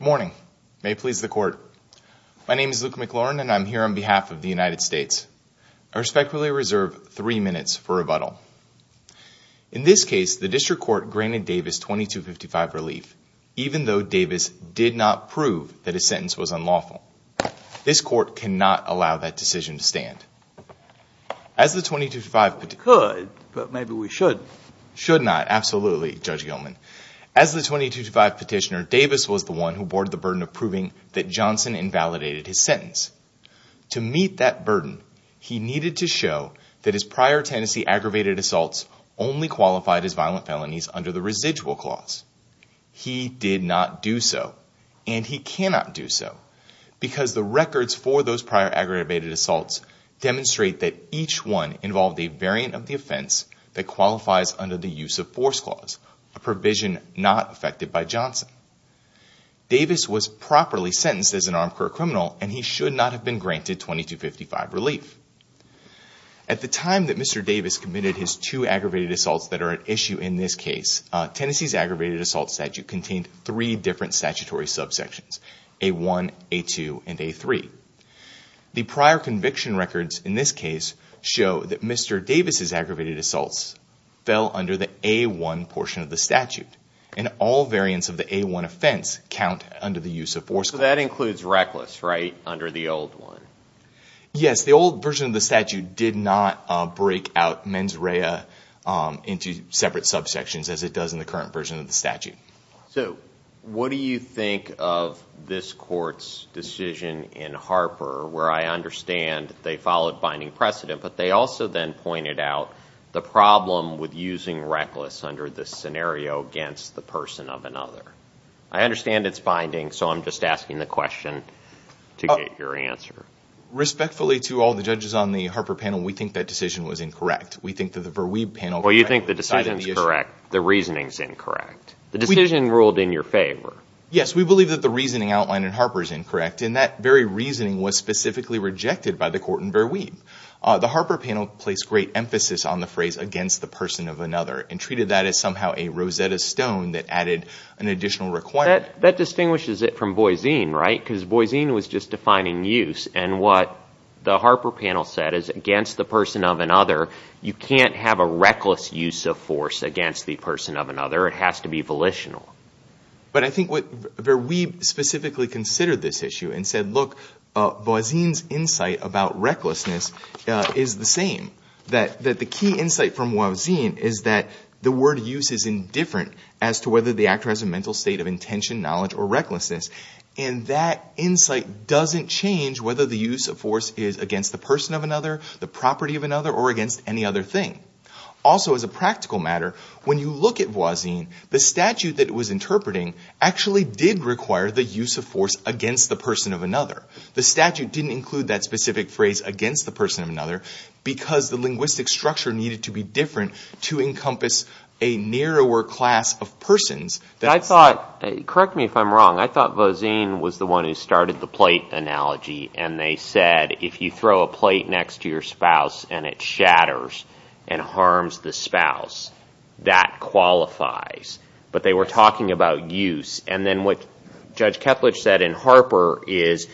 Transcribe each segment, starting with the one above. Good morning. May it please the court. My name is Luke McLaurin and I'm here on behalf of the United States. I respectfully reserve three minutes for rebuttal. In this case, the district court granted Davis 2255 relief, even though Davis did not prove that his sentence was unlawful. This court cannot allow that decision to stand. As the 2255 petitioner, Davis was the one who bore the burden of proving that Johnson invalidated his sentence. To meet that burden, he needed to show that his prior Tennessee aggravated assaults only qualified as violent felonies under the residual clause. He did not do so and he cannot do so because the records for those prior aggravated assaults demonstrate that each one involved a variant of the offense that qualifies under the use of force clause, a provision not affected by Johnson. Davis was properly sentenced as an armed criminal and he should not have been granted 2255 relief. At the time that Mr. Davis committed his two aggravated assaults that are at issue in this case, Tennessee's aggravated assault statute contained three different statutory subsections, A1, A2, and A3. The prior conviction records in this case show that Mr. Davis's aggravated assaults fell under the A1 portion of the statute and all variants of the A1 offense count under the use of force clause. So that includes reckless, right, under the old one? Yes, the old version of the statute did not break out mens rea into separate subsections as it does in the current version of the statute. So what do you think of this court's decision in Harper where I understand they followed binding precedent but they also then pointed out the problem with using reckless under this scenario against the person of another? I understand it's binding so I'm just asking the question to get your answer. Respectfully to all the judges on the Harper panel, we think that decision was incorrect. We think that the Verweeb panel... Well, you think the decision is correct, the reasoning is incorrect. The decision ruled in your favor. Yes, we believe that the reasoning outlined in Harper is incorrect and that very reasoning was specifically rejected by the court in Verweeb. The Harper panel placed great emphasis on the phrase against the person of another and treated that as somehow a Rosetta Stone that added an additional requirement. That distinguishes it from Boise, right? Because Boise was just defining use and what the Harper panel said is against the person of another, you can't have a reckless use of force against the person of another. It has to be volitional. But I think what Verweeb specifically considered this issue and said, look, Boise's insight about recklessness is the same. That the key insight from Boise is that the word use is indifferent as to whether the actor has a mental state of intention, knowledge, or recklessness and that insight doesn't change whether the use of force is against the person of another, the property of another, or against any other thing. Also as a practical matter, when you look at Boise, the statute that it was interpreting actually did require the use of force against the person of another. The statute didn't include that specific phrase against the person of another because the linguistic structure needed to be different to encompass a narrower class of persons. I thought, correct me if I'm wrong, I thought Boise was the one who started the plate analogy and they said if you throw a plate next to your spouse and it shatters and harms the spouse, that qualifies. But they were talking about use. And then what Judge Kethledge said in Harper is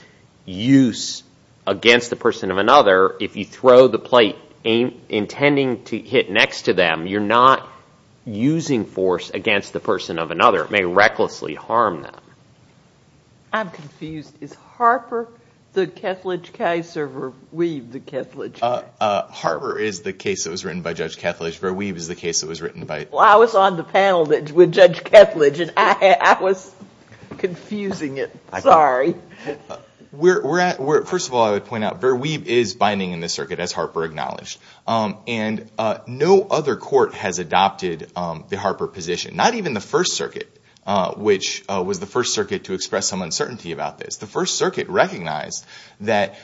use against the person of another, if you throw the plate intending to hit next to them, you're not using force against the person of another. It may recklessly harm them. I'm confused. Is Harper the Kethledge case or Verweeb the Kethledge case? Harper is the case that was written by Judge Kethledge. Verweeb is the case that was written by- Well, I was on the panel with Judge Kethledge and I was confusing it. Sorry. First of all, I would point out Verweeb is binding in this circuit as Harper acknowledged. And no other court has adopted the Harper position, not even the First Circuit, which was the first circuit to express some uncertainty about this. The First Circuit recognized that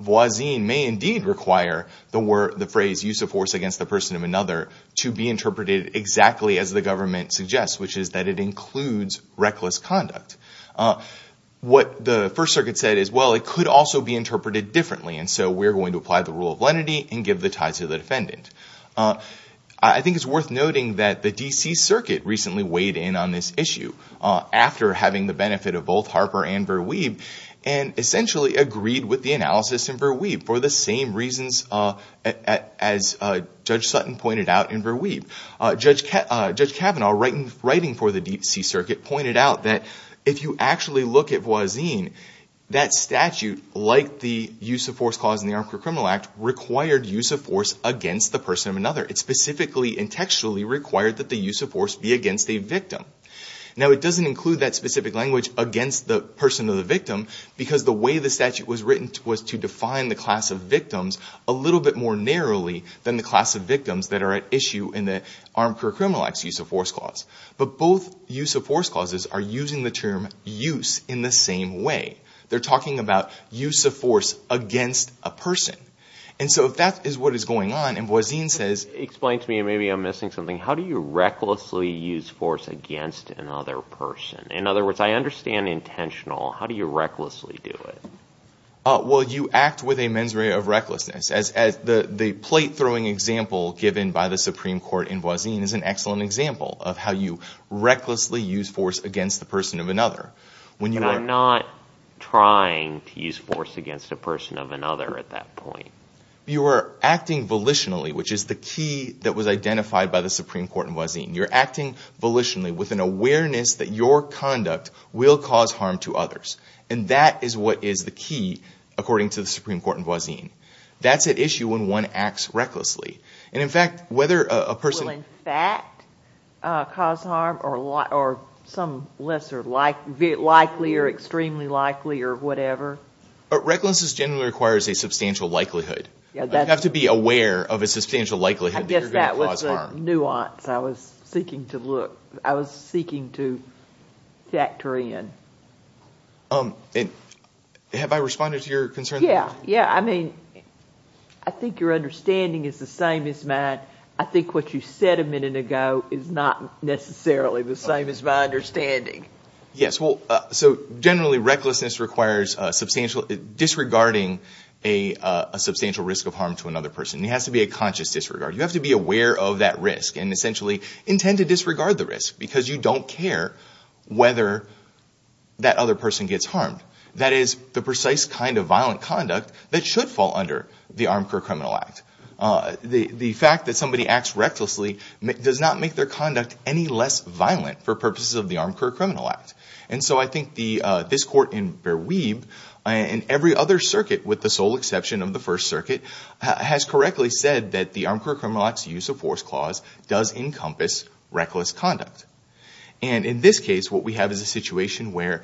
Boise may indeed require the phrase use of force against the person of another to be interpreted exactly as the government suggests, which is that it includes reckless conduct. What the First Circuit said is, well, it could also be interpreted differently. And so we're going to apply the rule of lenity and give the ties to the defendant. I think it's worth noting that the D.C. Circuit recently weighed in on this issue after having the benefit of both Harper and Verweeb and essentially agreed with the analysis in Verweeb for the same reasons as Judge Sutton pointed out in Verweeb. Judge Kavanaugh, writing for the D.C. Circuit, pointed out that if you actually look at Boise, that statute, like the use of force clause in the Armed Criminal Act, required use of force against the person of another. It specifically and textually required that the use of force be against a victim. Now it doesn't include that specific language against the person or the victim because the way the statute was written was to define the class of victims a little bit more narrowly than the class of victims that are at issue in the Armed Criminal Act's use of force clause. But both use of force clauses are using the term use in the same way. They're talking about use of force against a person. And so if that is what is going on, and Boise says... Explain to me, maybe I'm missing something. How do you recklessly use force against another person? In other words, I understand intentional. How do you recklessly do it? Well, you act with a mens rea of recklessness. The plate-throwing example given by the Supreme Court in Boise is an excellent example of how you recklessly use force against the person of another. But I'm not trying to use force against a person of another at that point. You are acting volitionally, which is the key that was identified by the Supreme Court in Boise. You're acting volitionally with an awareness that your conduct will cause harm to others. And that is what is the key, according to the Supreme Court in Boise. That's at issue when one acts recklessly. Will, in fact, cause harm or some lesser likely or extremely likely or whatever? Recklessness generally requires a substantial likelihood. You have to be aware of a substantial likelihood that you're going to cause harm. That's the nuance I was seeking to look, I was seeking to factor in. Have I responded to your concern? Yeah. Yeah. I mean, I think your understanding is the same as mine. I think what you said a minute ago is not necessarily the same as my understanding. Yes. Well, so generally recklessness requires disregarding a substantial risk of harm to that risk and essentially intend to disregard the risk because you don't care whether that other person gets harmed. That is the precise kind of violent conduct that should fall under the Armed Career Criminal Act. The fact that somebody acts recklessly does not make their conduct any less violent for purposes of the Armed Career Criminal Act. And so I think this Court in Beir Weib and every other circuit, with the sole exception of the First Circuit, has correctly said that the Armed Career Criminal Act's use of force clause does encompass reckless conduct. And in this case, what we have is a situation where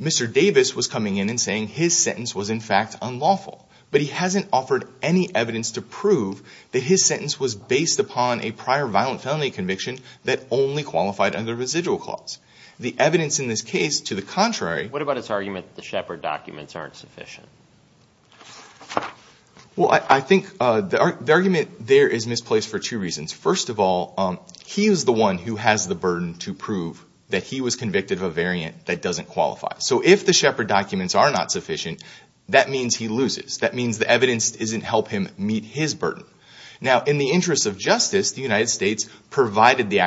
Mr. Davis was coming in and saying his sentence was in fact unlawful, but he hasn't offered any evidence to prove that his sentence was based upon a prior violent felony conviction that only qualified under residual clause. The evidence in this case, to the contrary What about his argument that the Shepard documents aren't sufficient? Well, I think the argument there is misplaced for two reasons. First of all, he is the one who has the burden to prove that he was convicted of a variant that doesn't qualify. So if the Shepard documents are not sufficient, that means he loses. That means the evidence doesn't help him meet his burden. Now, in the interest of justice, the United States provided the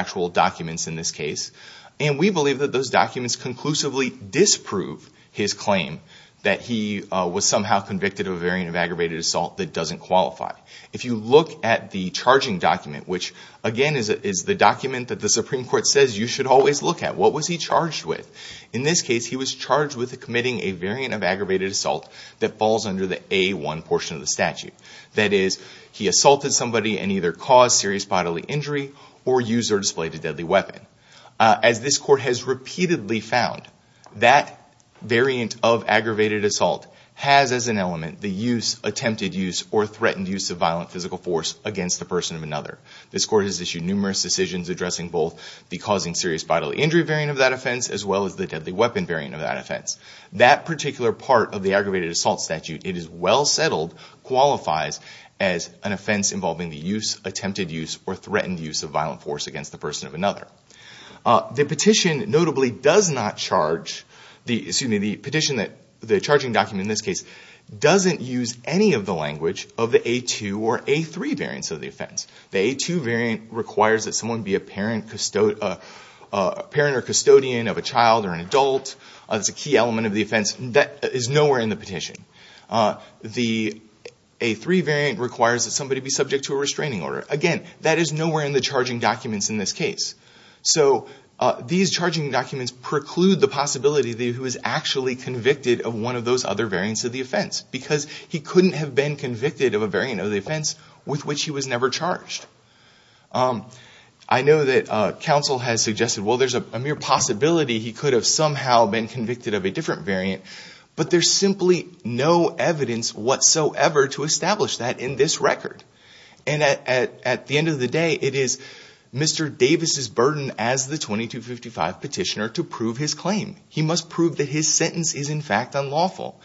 claim that he was somehow convicted of a variant of aggravated assault that doesn't qualify. If you look at the charging document, which again is the document that the Supreme Court says you should always look at, what was he charged with? In this case, he was charged with committing a variant of aggravated assault that falls under the A1 portion of the statute. That is, he assaulted somebody and either caused serious bodily injury or used or displayed a deadly weapon. As this court has repeatedly found, that variant of aggravated assault has as an element the use, attempted use, or threatened use of violent physical force against the person of another. This court has issued numerous decisions addressing both the causing serious bodily injury variant of that offense as well as the deadly weapon variant of that offense. That particular part of the aggravated assault statute, it is well settled qualifies as an offense involving the use, attempted use, or threatened use of violent force against the person of another. The petition, notably, does not charge, excuse me, the petition, the charging document in this case, doesn't use any of the language of the A2 or A3 variants of the offense. The A2 variant requires that someone be a parent or custodian of a child or an adult. That's a key element of the offense. That is nowhere in the petition. The A3 variant requires that somebody be subject to a restraining order. Again, that is nowhere in the charging documents in this case. So these charging documents preclude the possibility that he was actually convicted of one of those other variants of the offense because he couldn't have been convicted of a variant of the offense with which he was never charged. I know that counsel has suggested, well, there's a mere possibility he could have somehow been convicted of a different variant, but there's simply no evidence whatsoever to establish that in this record. And at the end of the day, it is Mr. Davis's burden as the 2255 petitioner to prove his claim. He must prove that his sentence is in fact unlawful.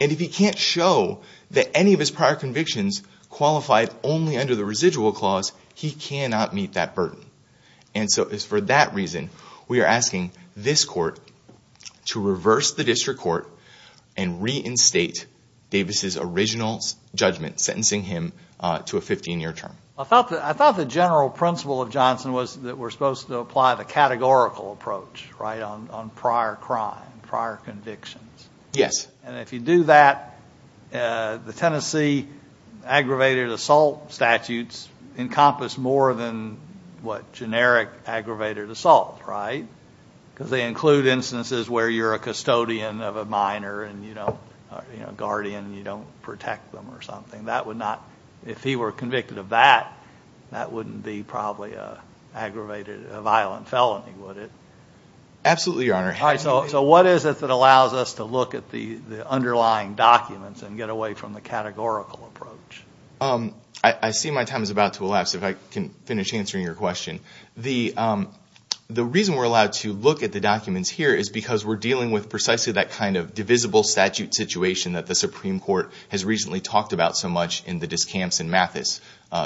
And if he can't show that any of his prior convictions qualified only under the residual clause, he cannot meet that burden. And so it's for that reason we are asking this court to reverse the district court and reinstate Davis's original judgment, sentencing him to a 15-year term. I thought the general principle of Johnson was that we're supposed to apply the categorical approach, right, on prior crime, prior convictions. Yes. And if you do that, the Tennessee aggravated assault statutes encompass more than, what, because they include instances where you're a custodian of a minor and, you know, a guardian and you don't protect them or something. That would not, if he were convicted of that, that wouldn't be probably an aggravated, a violent felony, would it? Absolutely, Your Honor. All right. So what is it that allows us to look at the underlying documents and get away from the categorical approach? I see my time is about to elapse if I can finish answering your question. The reason we're allowed to look at the documents here is because we're dealing with precisely that kind of divisible statute situation that the Supreme Court has recently talked about so much in the Discamps and Mathis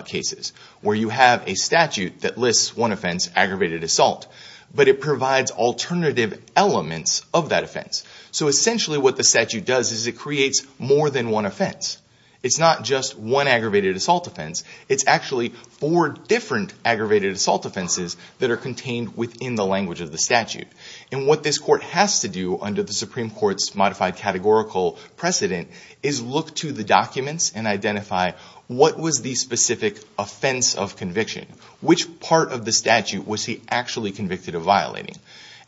cases, where you have a statute that lists one offense, aggravated assault, but it provides alternative elements of that offense. So essentially what the statute does is it creates more than one offense. It's not just one aggravated assault offense. It's actually four different aggravated assault offenses that are contained within the language of the statute. And what this court has to do under the Supreme Court's modified categorical precedent is look to the documents and identify what was the specific offense of conviction? Which part of the statute was he actually convicted of violating?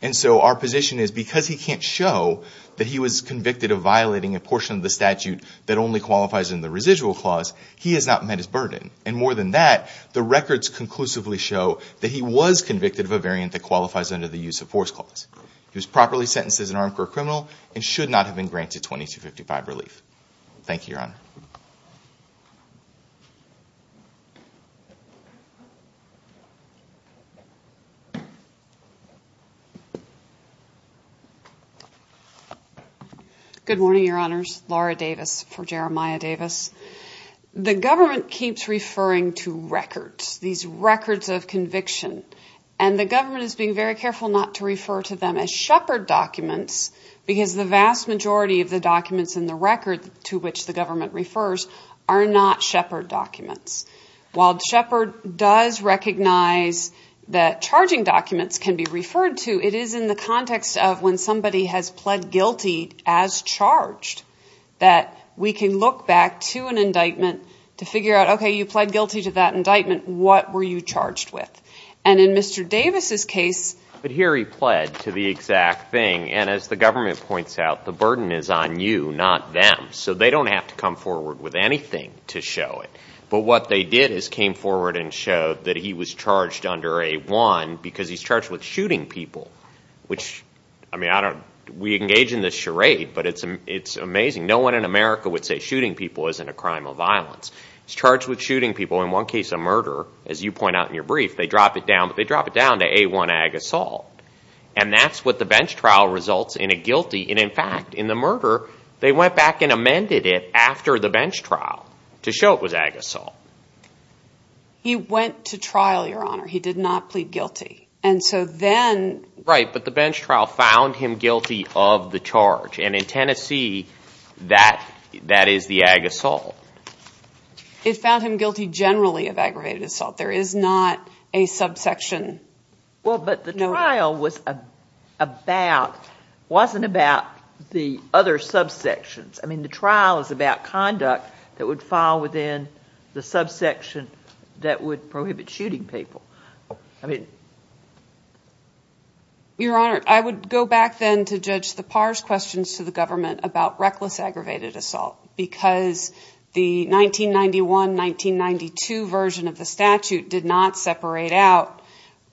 And so our position is because he can't show that he was convicted of violating a portion of the statute that only qualifies in the residual clause, he has not met his burden. And more than that, the records conclusively show that he was convicted of a variant that qualifies under the use of force clause. He was properly sentenced as an armed criminal and should not have been granted 2255 relief. Thank you, Your Honor. Good morning, Your Honors. Laura Davis for Jeremiah Davis. The government keeps referring to records, these records of conviction. And the government is being very careful not to refer to them as shepherd documents because the vast majority of the documents in the government refers are not shepherd documents. While shepherd does recognize that charging documents can be referred to, it is in the context of when somebody has pled guilty as charged that we can look back to an indictment to figure out, okay, you pled guilty to that indictment. What were you charged with? And in Mr. Davis's case... But here he pled to the exact thing. And as the government points out, the burden is on you, not them. So they don't have to come forward with anything to show it. But what they did is came forward and showed that he was charged under A-1 because he's charged with shooting people. We engage in this charade, but it's amazing. No one in America would say shooting people isn't a crime of violence. He's charged with shooting people. In one case of murder, as you point out in your brief, they drop it down to A-1 ag assault. And that's what the bench trial results in a guilty. And in fact, in the murder, they went back and amended it after the bench trial to show it was ag assault. He went to trial, Your Honor. He did not plead guilty. And so then... Right. But the bench trial found him guilty of the charge. And in Tennessee, that is the ag assault. It found him guilty generally of aggravated assault. There is not a subsection. Well, but the trial wasn't about the other subsections. I mean, the trial is about conduct that would fall within the subsection that would prohibit shooting people. I mean... Your Honor, I would go back then to judge the Parr's questions to the government about reckless aggravated assault. Because the 1991-1992 version of the statute did not separate out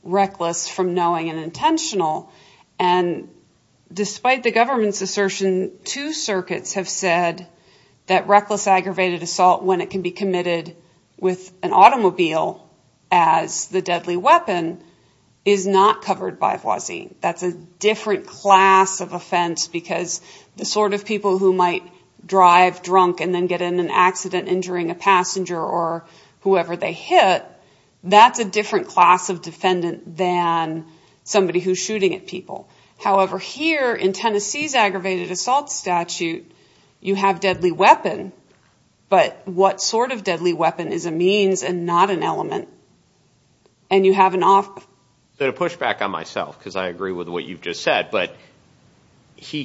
reckless from knowing and intentional. And despite the government's assertion, two circuits have said that reckless aggravated assault, when it can be committed with an automobile as the deadly weapon, is not covered by Voisin. That's a different class of offense because the sort of people who might drive drunk and then get in an accident injuring a passenger or whoever they hit, that's a different class of defendant than somebody who's shooting at people. However, here in Tennessee's aggravated assault statute, you have deadly weapon. But what sort of deadly weapon is a means and not an element? And you have an off... So to push back on myself, because I agree with what you've just said, but he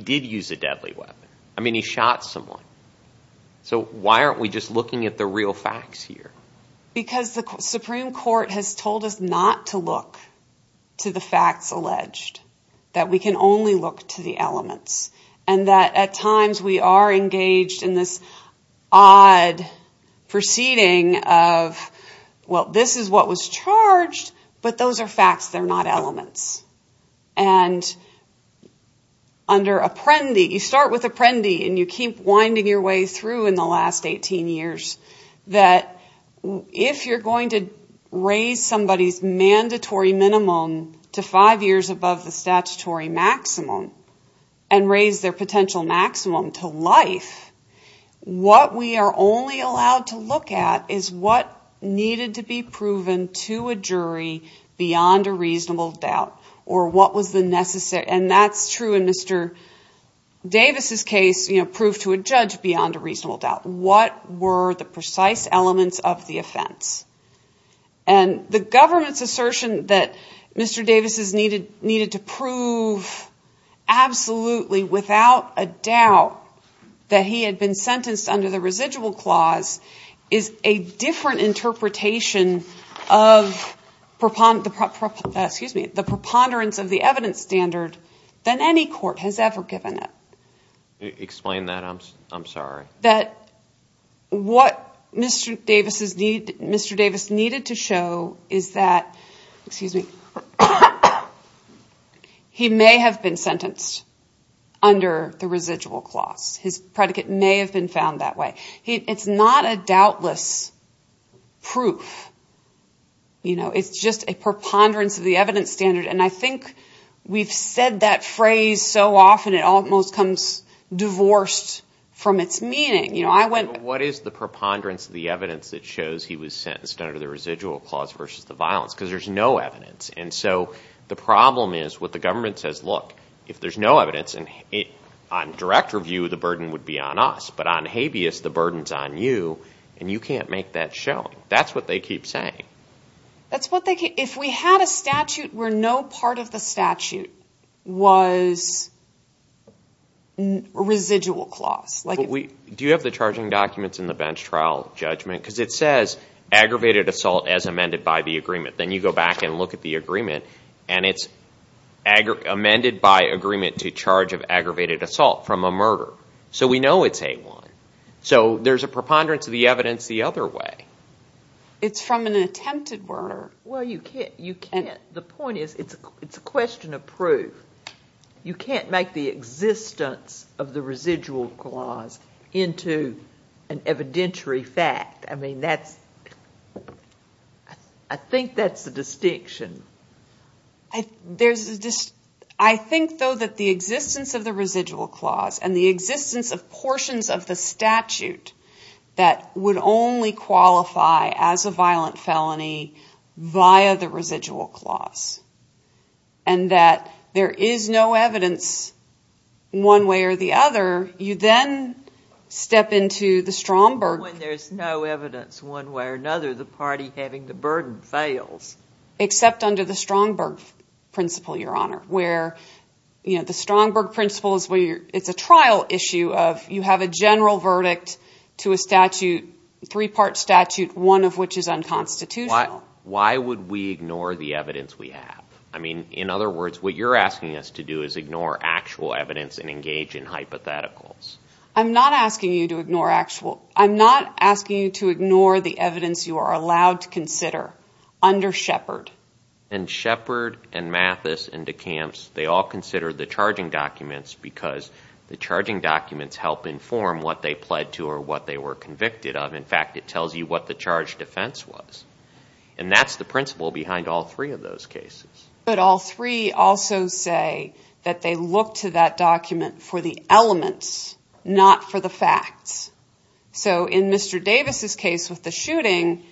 did use a deadly weapon. I mean, he shot someone. So why aren't we just looking at the real facts here? Because the Supreme Court has told us not to look to the facts alleged. That we can only look to the elements. And that at times we are engaged in this odd proceeding of, well, this is what was charged, but those are facts, they're not elements. And under Apprendi, you start with Apprendi and you keep winding your way through in the last 18 years, that if you're going to raise somebody's mandatory minimum to five years above the statutory maximum and raise their potential maximum to life, what we are only allowed to look at is what needed to be proven to a jury beyond a reasonable doubt or what was the necessary... And that's true in Mr. Davis' case, you know, proved to a judge beyond a reasonable doubt. What were the precise elements of the offense? And the government's assertion that Mr. Davis' needed to prove absolutely without a doubt that he had been sentenced under the residual clause is a different interpretation of the preponderance of the evidence standard than any court has ever given it. Explain that, I'm sorry. What Mr. Davis needed to show is that he may have been sentenced under the residual clause. His predicate may have been found that way. It's not a doubtless proof. It's just a preponderance of the evidence standard. And I think we've said that phrase so often, it almost comes divorced from its meaning. What is the preponderance of the evidence that shows he was sentenced under the residual clause versus the violence? Because there's no evidence. And so the problem is what the government says, look, if there's no evidence, on direct review, the burden would be on us. But on habeas, the burden's on you, and you can't make that show. That's what they keep saying. That's what they keep... If we had a statute where no part of the statute was residual clause. Do you have the charging documents in the bench trial judgment? Because it says aggravated assault as amended by the agreement. Then you go back and look at the agreement, and it's amended by agreement to charge of aggravated assault from a murder. So we know it's A1. So there's a preponderance of the evidence the other way. It's from an attempted murder. Well, you can't... The point is, it's a question of proof. You can't make the existence of the residual clause into an evidentiary fact. I mean, that's... I think that's the distinction. I think, though, that the existence of the residual clause and the existence of portions of the statute that would only qualify as a violent felony via the residual clause, and that there is no evidence one way or the other, you then step into the Stromberg... When there's no evidence one way or another, the party having the burden fails. Except under the Stromberg principle, Your Honor, where... The Stromberg principle is a trial issue of you have a general verdict to a statute, a three-part statute, one of which is unconstitutional. Why would we ignore the evidence we have? I mean, in other words, what you're asking us to do is ignore actual evidence and engage in hypotheticals. I'm not asking you to ignore actual... I'm not asking you to ignore the evidence you are allowed to consider under Shepard. And Shepard and Mathis and DeCamps, they all consider the charging documents because the charging documents help inform what they pled to or what they were convicted of. In fact, it tells you what the charge defense was. And that's the principle behind all three of those cases. But all three also say that they look to that document for the elements, not for the facts. So in Mr. Davis' case with the shooting...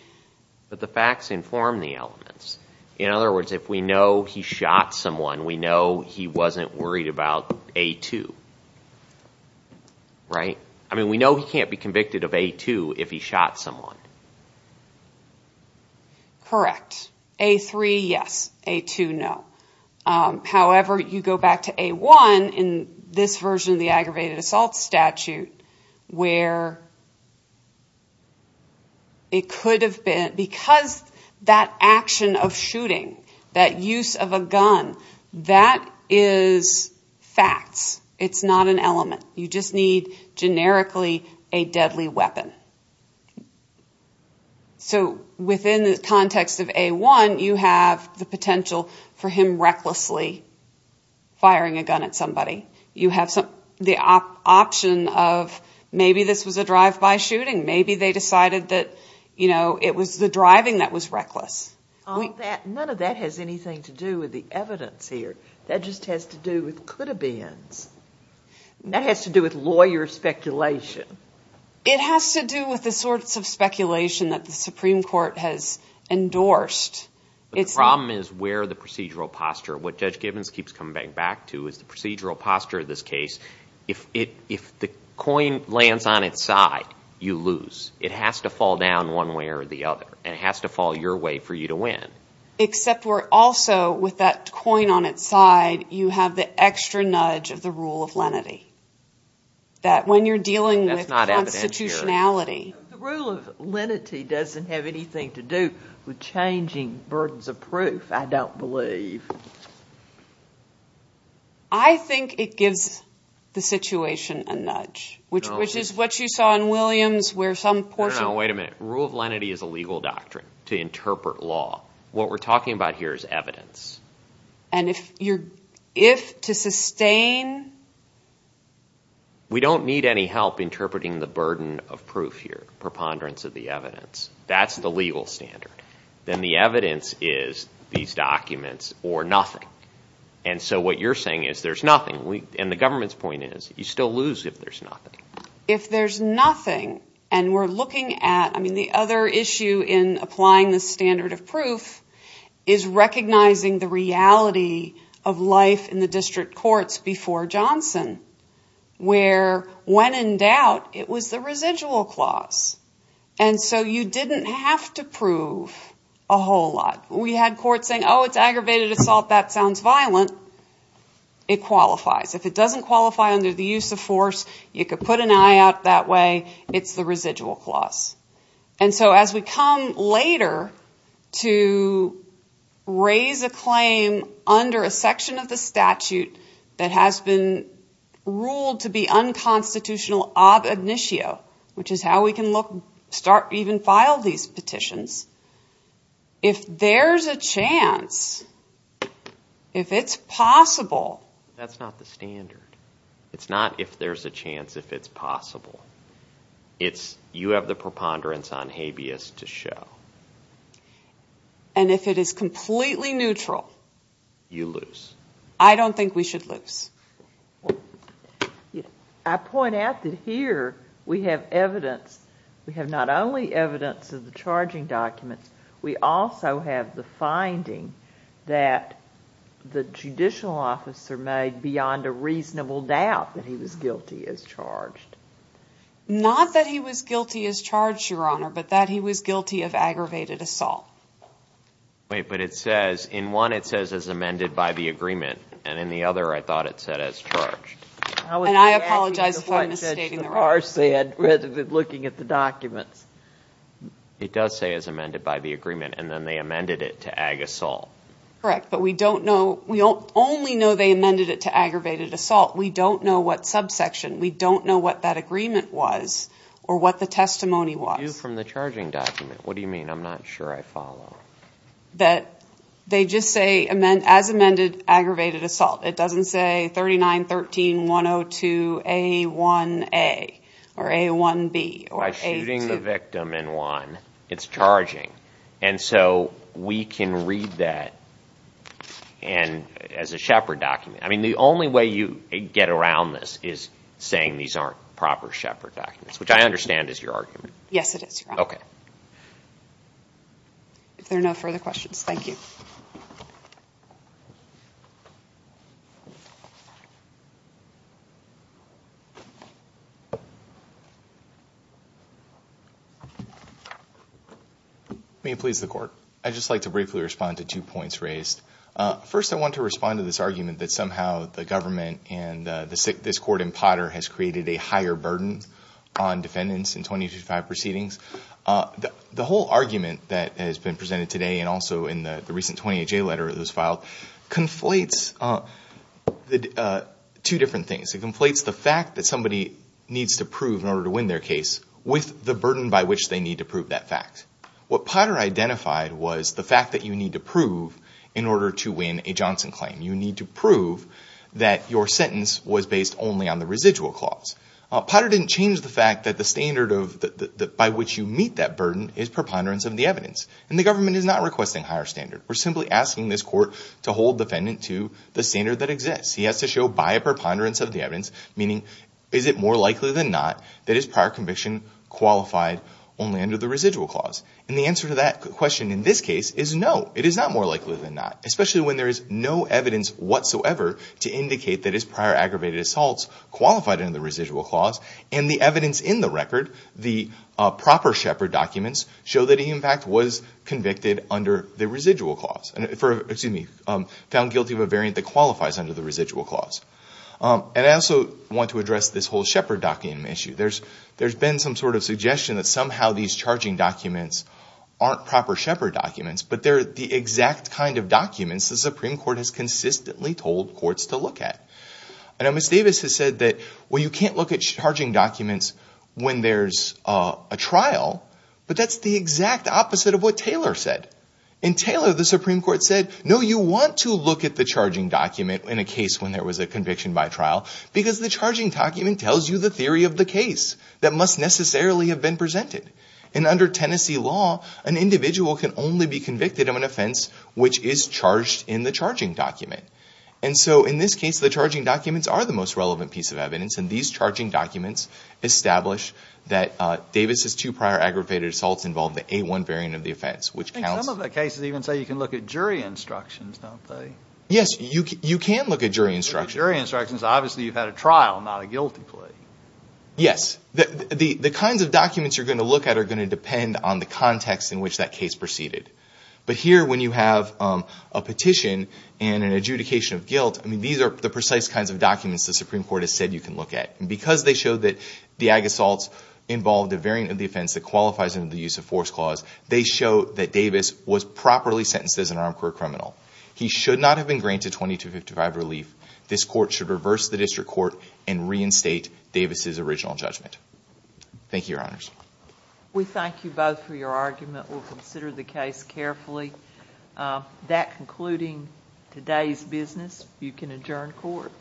But the facts inform the elements. In other words, if we know he shot someone, we know he wasn't worried about A2, right? I mean, we know he can't be convicted of A2 if he shot someone. Correct. A3, yes. A2, no. However, you go back to A1 in this version of the aggravated assault statute where it could have been... Because that action of shooting, that use of a gun, that is facts. It's not an element. You just need generically a deadly weapon. So within the context of A1, you have the potential for him recklessly firing a gun at somebody. You have the option of maybe this was a drive-by shooting. Maybe they decided that it was the driving that was reckless. None of that has anything to do with the evidence here. That just has to do with could-have-beens. That has to do with lawyer speculation. It has to do with the sorts of speculation that the Supreme Court has endorsed. The problem is where the procedural posture... What Judge Gibbons keeps coming back to is the procedural posture of this case. If the coin lands on its side, you lose. It has to fall down one way or the other. It has to fall your way for you to win. Except where also with that coin on its side, you have the extra nudge of the rule of lenity. That when you're dealing with constitutionality... The rule of lenity doesn't have anything to do with changing burdens of proof, I don't believe. I think it gives the situation a nudge, which is what you saw in Williams where some portion... No, no, wait a minute. Rule of lenity is a legal doctrine to interpret law. What we're talking about here is evidence. If to sustain... We don't need any help interpreting the burden of proof here, preponderance of the evidence. That's the legal standard. Then the evidence is these documents or nothing. What you're saying is there's nothing. The government's point is you still lose if there's nothing. If there's nothing and we're looking at... The other issue in applying the standard of proof is recognizing the reality of life in the district courts before Johnson where when in doubt, it was the residual clause. You didn't have to prove a whole lot. We had courts saying, oh, it's aggravated assault. That sounds violent. It qualifies. If it doesn't qualify under the use of force, you could put an eye out that way. It's the residual clause. As we come later to raise a claim under a section of the statute that has been ruled to be unconstitutional ob initio, which is how we can even file these petitions, if there's a chance, if it's possible... That's not the standard. It's not if there's a chance if it's possible. It's you have the preponderance on habeas to show. If it is completely neutral... You lose. I don't think we should lose. I point out that here we have evidence. We have not only evidence of the charging documents, we also have the finding that the judicial officer made beyond a reasonable doubt that he was guilty as charged. Not that he was guilty as charged, Your Honor, but that he was guilty of aggravated assault. Wait, but it says, in one it says as amended by the agreement, and in the other I thought it said as charged. And I apologize if I'm misstating the rest. Rather than looking at the documents. It does say as amended by the agreement, and then they amended it to ag assault. Correct, but we don't know, we only know they amended it to aggravated assault. We don't know what subsection, we don't know what that agreement was, or what the testimony was. What do you mean, I'm not sure I follow. That they just say as amended aggravated assault. It doesn't say 3913-102-A1A, or A1B, or A2. By shooting the victim in one, it's charging. And so we can read that as a Shepard document. I mean, the only way you get around this is saying these aren't proper Shepard documents, which I understand is your argument. Yes it is, Your Honor. If there are no further questions, thank you. May it please the court. I'd just like to briefly respond to two points raised. First, I want to respond to this argument that somehow the government and this court in Potter has in our proceedings. The whole argument that has been presented today, and also in the recent 20HA letter that was filed, conflates two different things. It conflates the fact that somebody needs to prove in order to win their case with the burden by which they need to prove that fact. What Potter identified was the fact that you need to prove in order to win a Johnson claim. You need to prove that your sentence was based only on the residual clause. Potter didn't change the fact that the standard by which you meet that burden is preponderance of the evidence. And the government is not requesting higher standard. We're simply asking this court to hold defendant to the standard that exists. He has to show by a preponderance of the evidence, meaning is it more likely than not that his prior conviction qualified only under the residual clause? And the answer to that question in this case is no, it is not more likely than not, especially when there is no evidence whatsoever to indicate that his prior aggravated assaults qualified under the residual clause. And the evidence in the record, the proper Shepard documents, show that he in fact was convicted under the residual clause, excuse me, found guilty of a variant that qualifies under the residual clause. And I also want to address this whole Shepard document issue. There's been some sort of suggestion that somehow these charging documents aren't proper Shepard documents, but they're the exact kind of documents the Supreme Court has consistently told courts to look at. I know Ms. Davis has said that, well, you can't look at charging documents when there's a trial, but that's the exact opposite of what Taylor said. In Taylor, the Supreme Court said, no, you want to look at the charging document in a case when there was a conviction by trial because the charging document tells you the theory of the case that must necessarily have been presented. And under Tennessee law, an individual can only be convicted of an offense which is charged in the charging document. And so in this case, the charging documents are the most relevant piece of evidence, and these charging documents establish that Davis's two prior aggravated assaults involved the A-1 variant of the offense, which counts- And some of the cases even say you can look at jury instructions, don't they? Yes, you can look at jury instructions. Jury instructions, obviously you've had a trial, not a guilty plea. Yes. The kinds of documents you're going to look at are going to depend on the context in which that case proceeded. But here, when you have a petition and an adjudication of guilt, I mean, these are the precise kinds of documents the Supreme Court has said you can look at. And because they show that the ag assaults involved a variant of the offense that qualifies under the Use of Force Clause, they show that Davis was properly sentenced as an armed career criminal. He should not have been granted 20 to 55 relief. This court should reverse the district court and reinstate Davis's original judgment. Thank you, Your Honors. We thank you both for your argument. We'll consider the case carefully. That concluding today's business, you can adjourn court.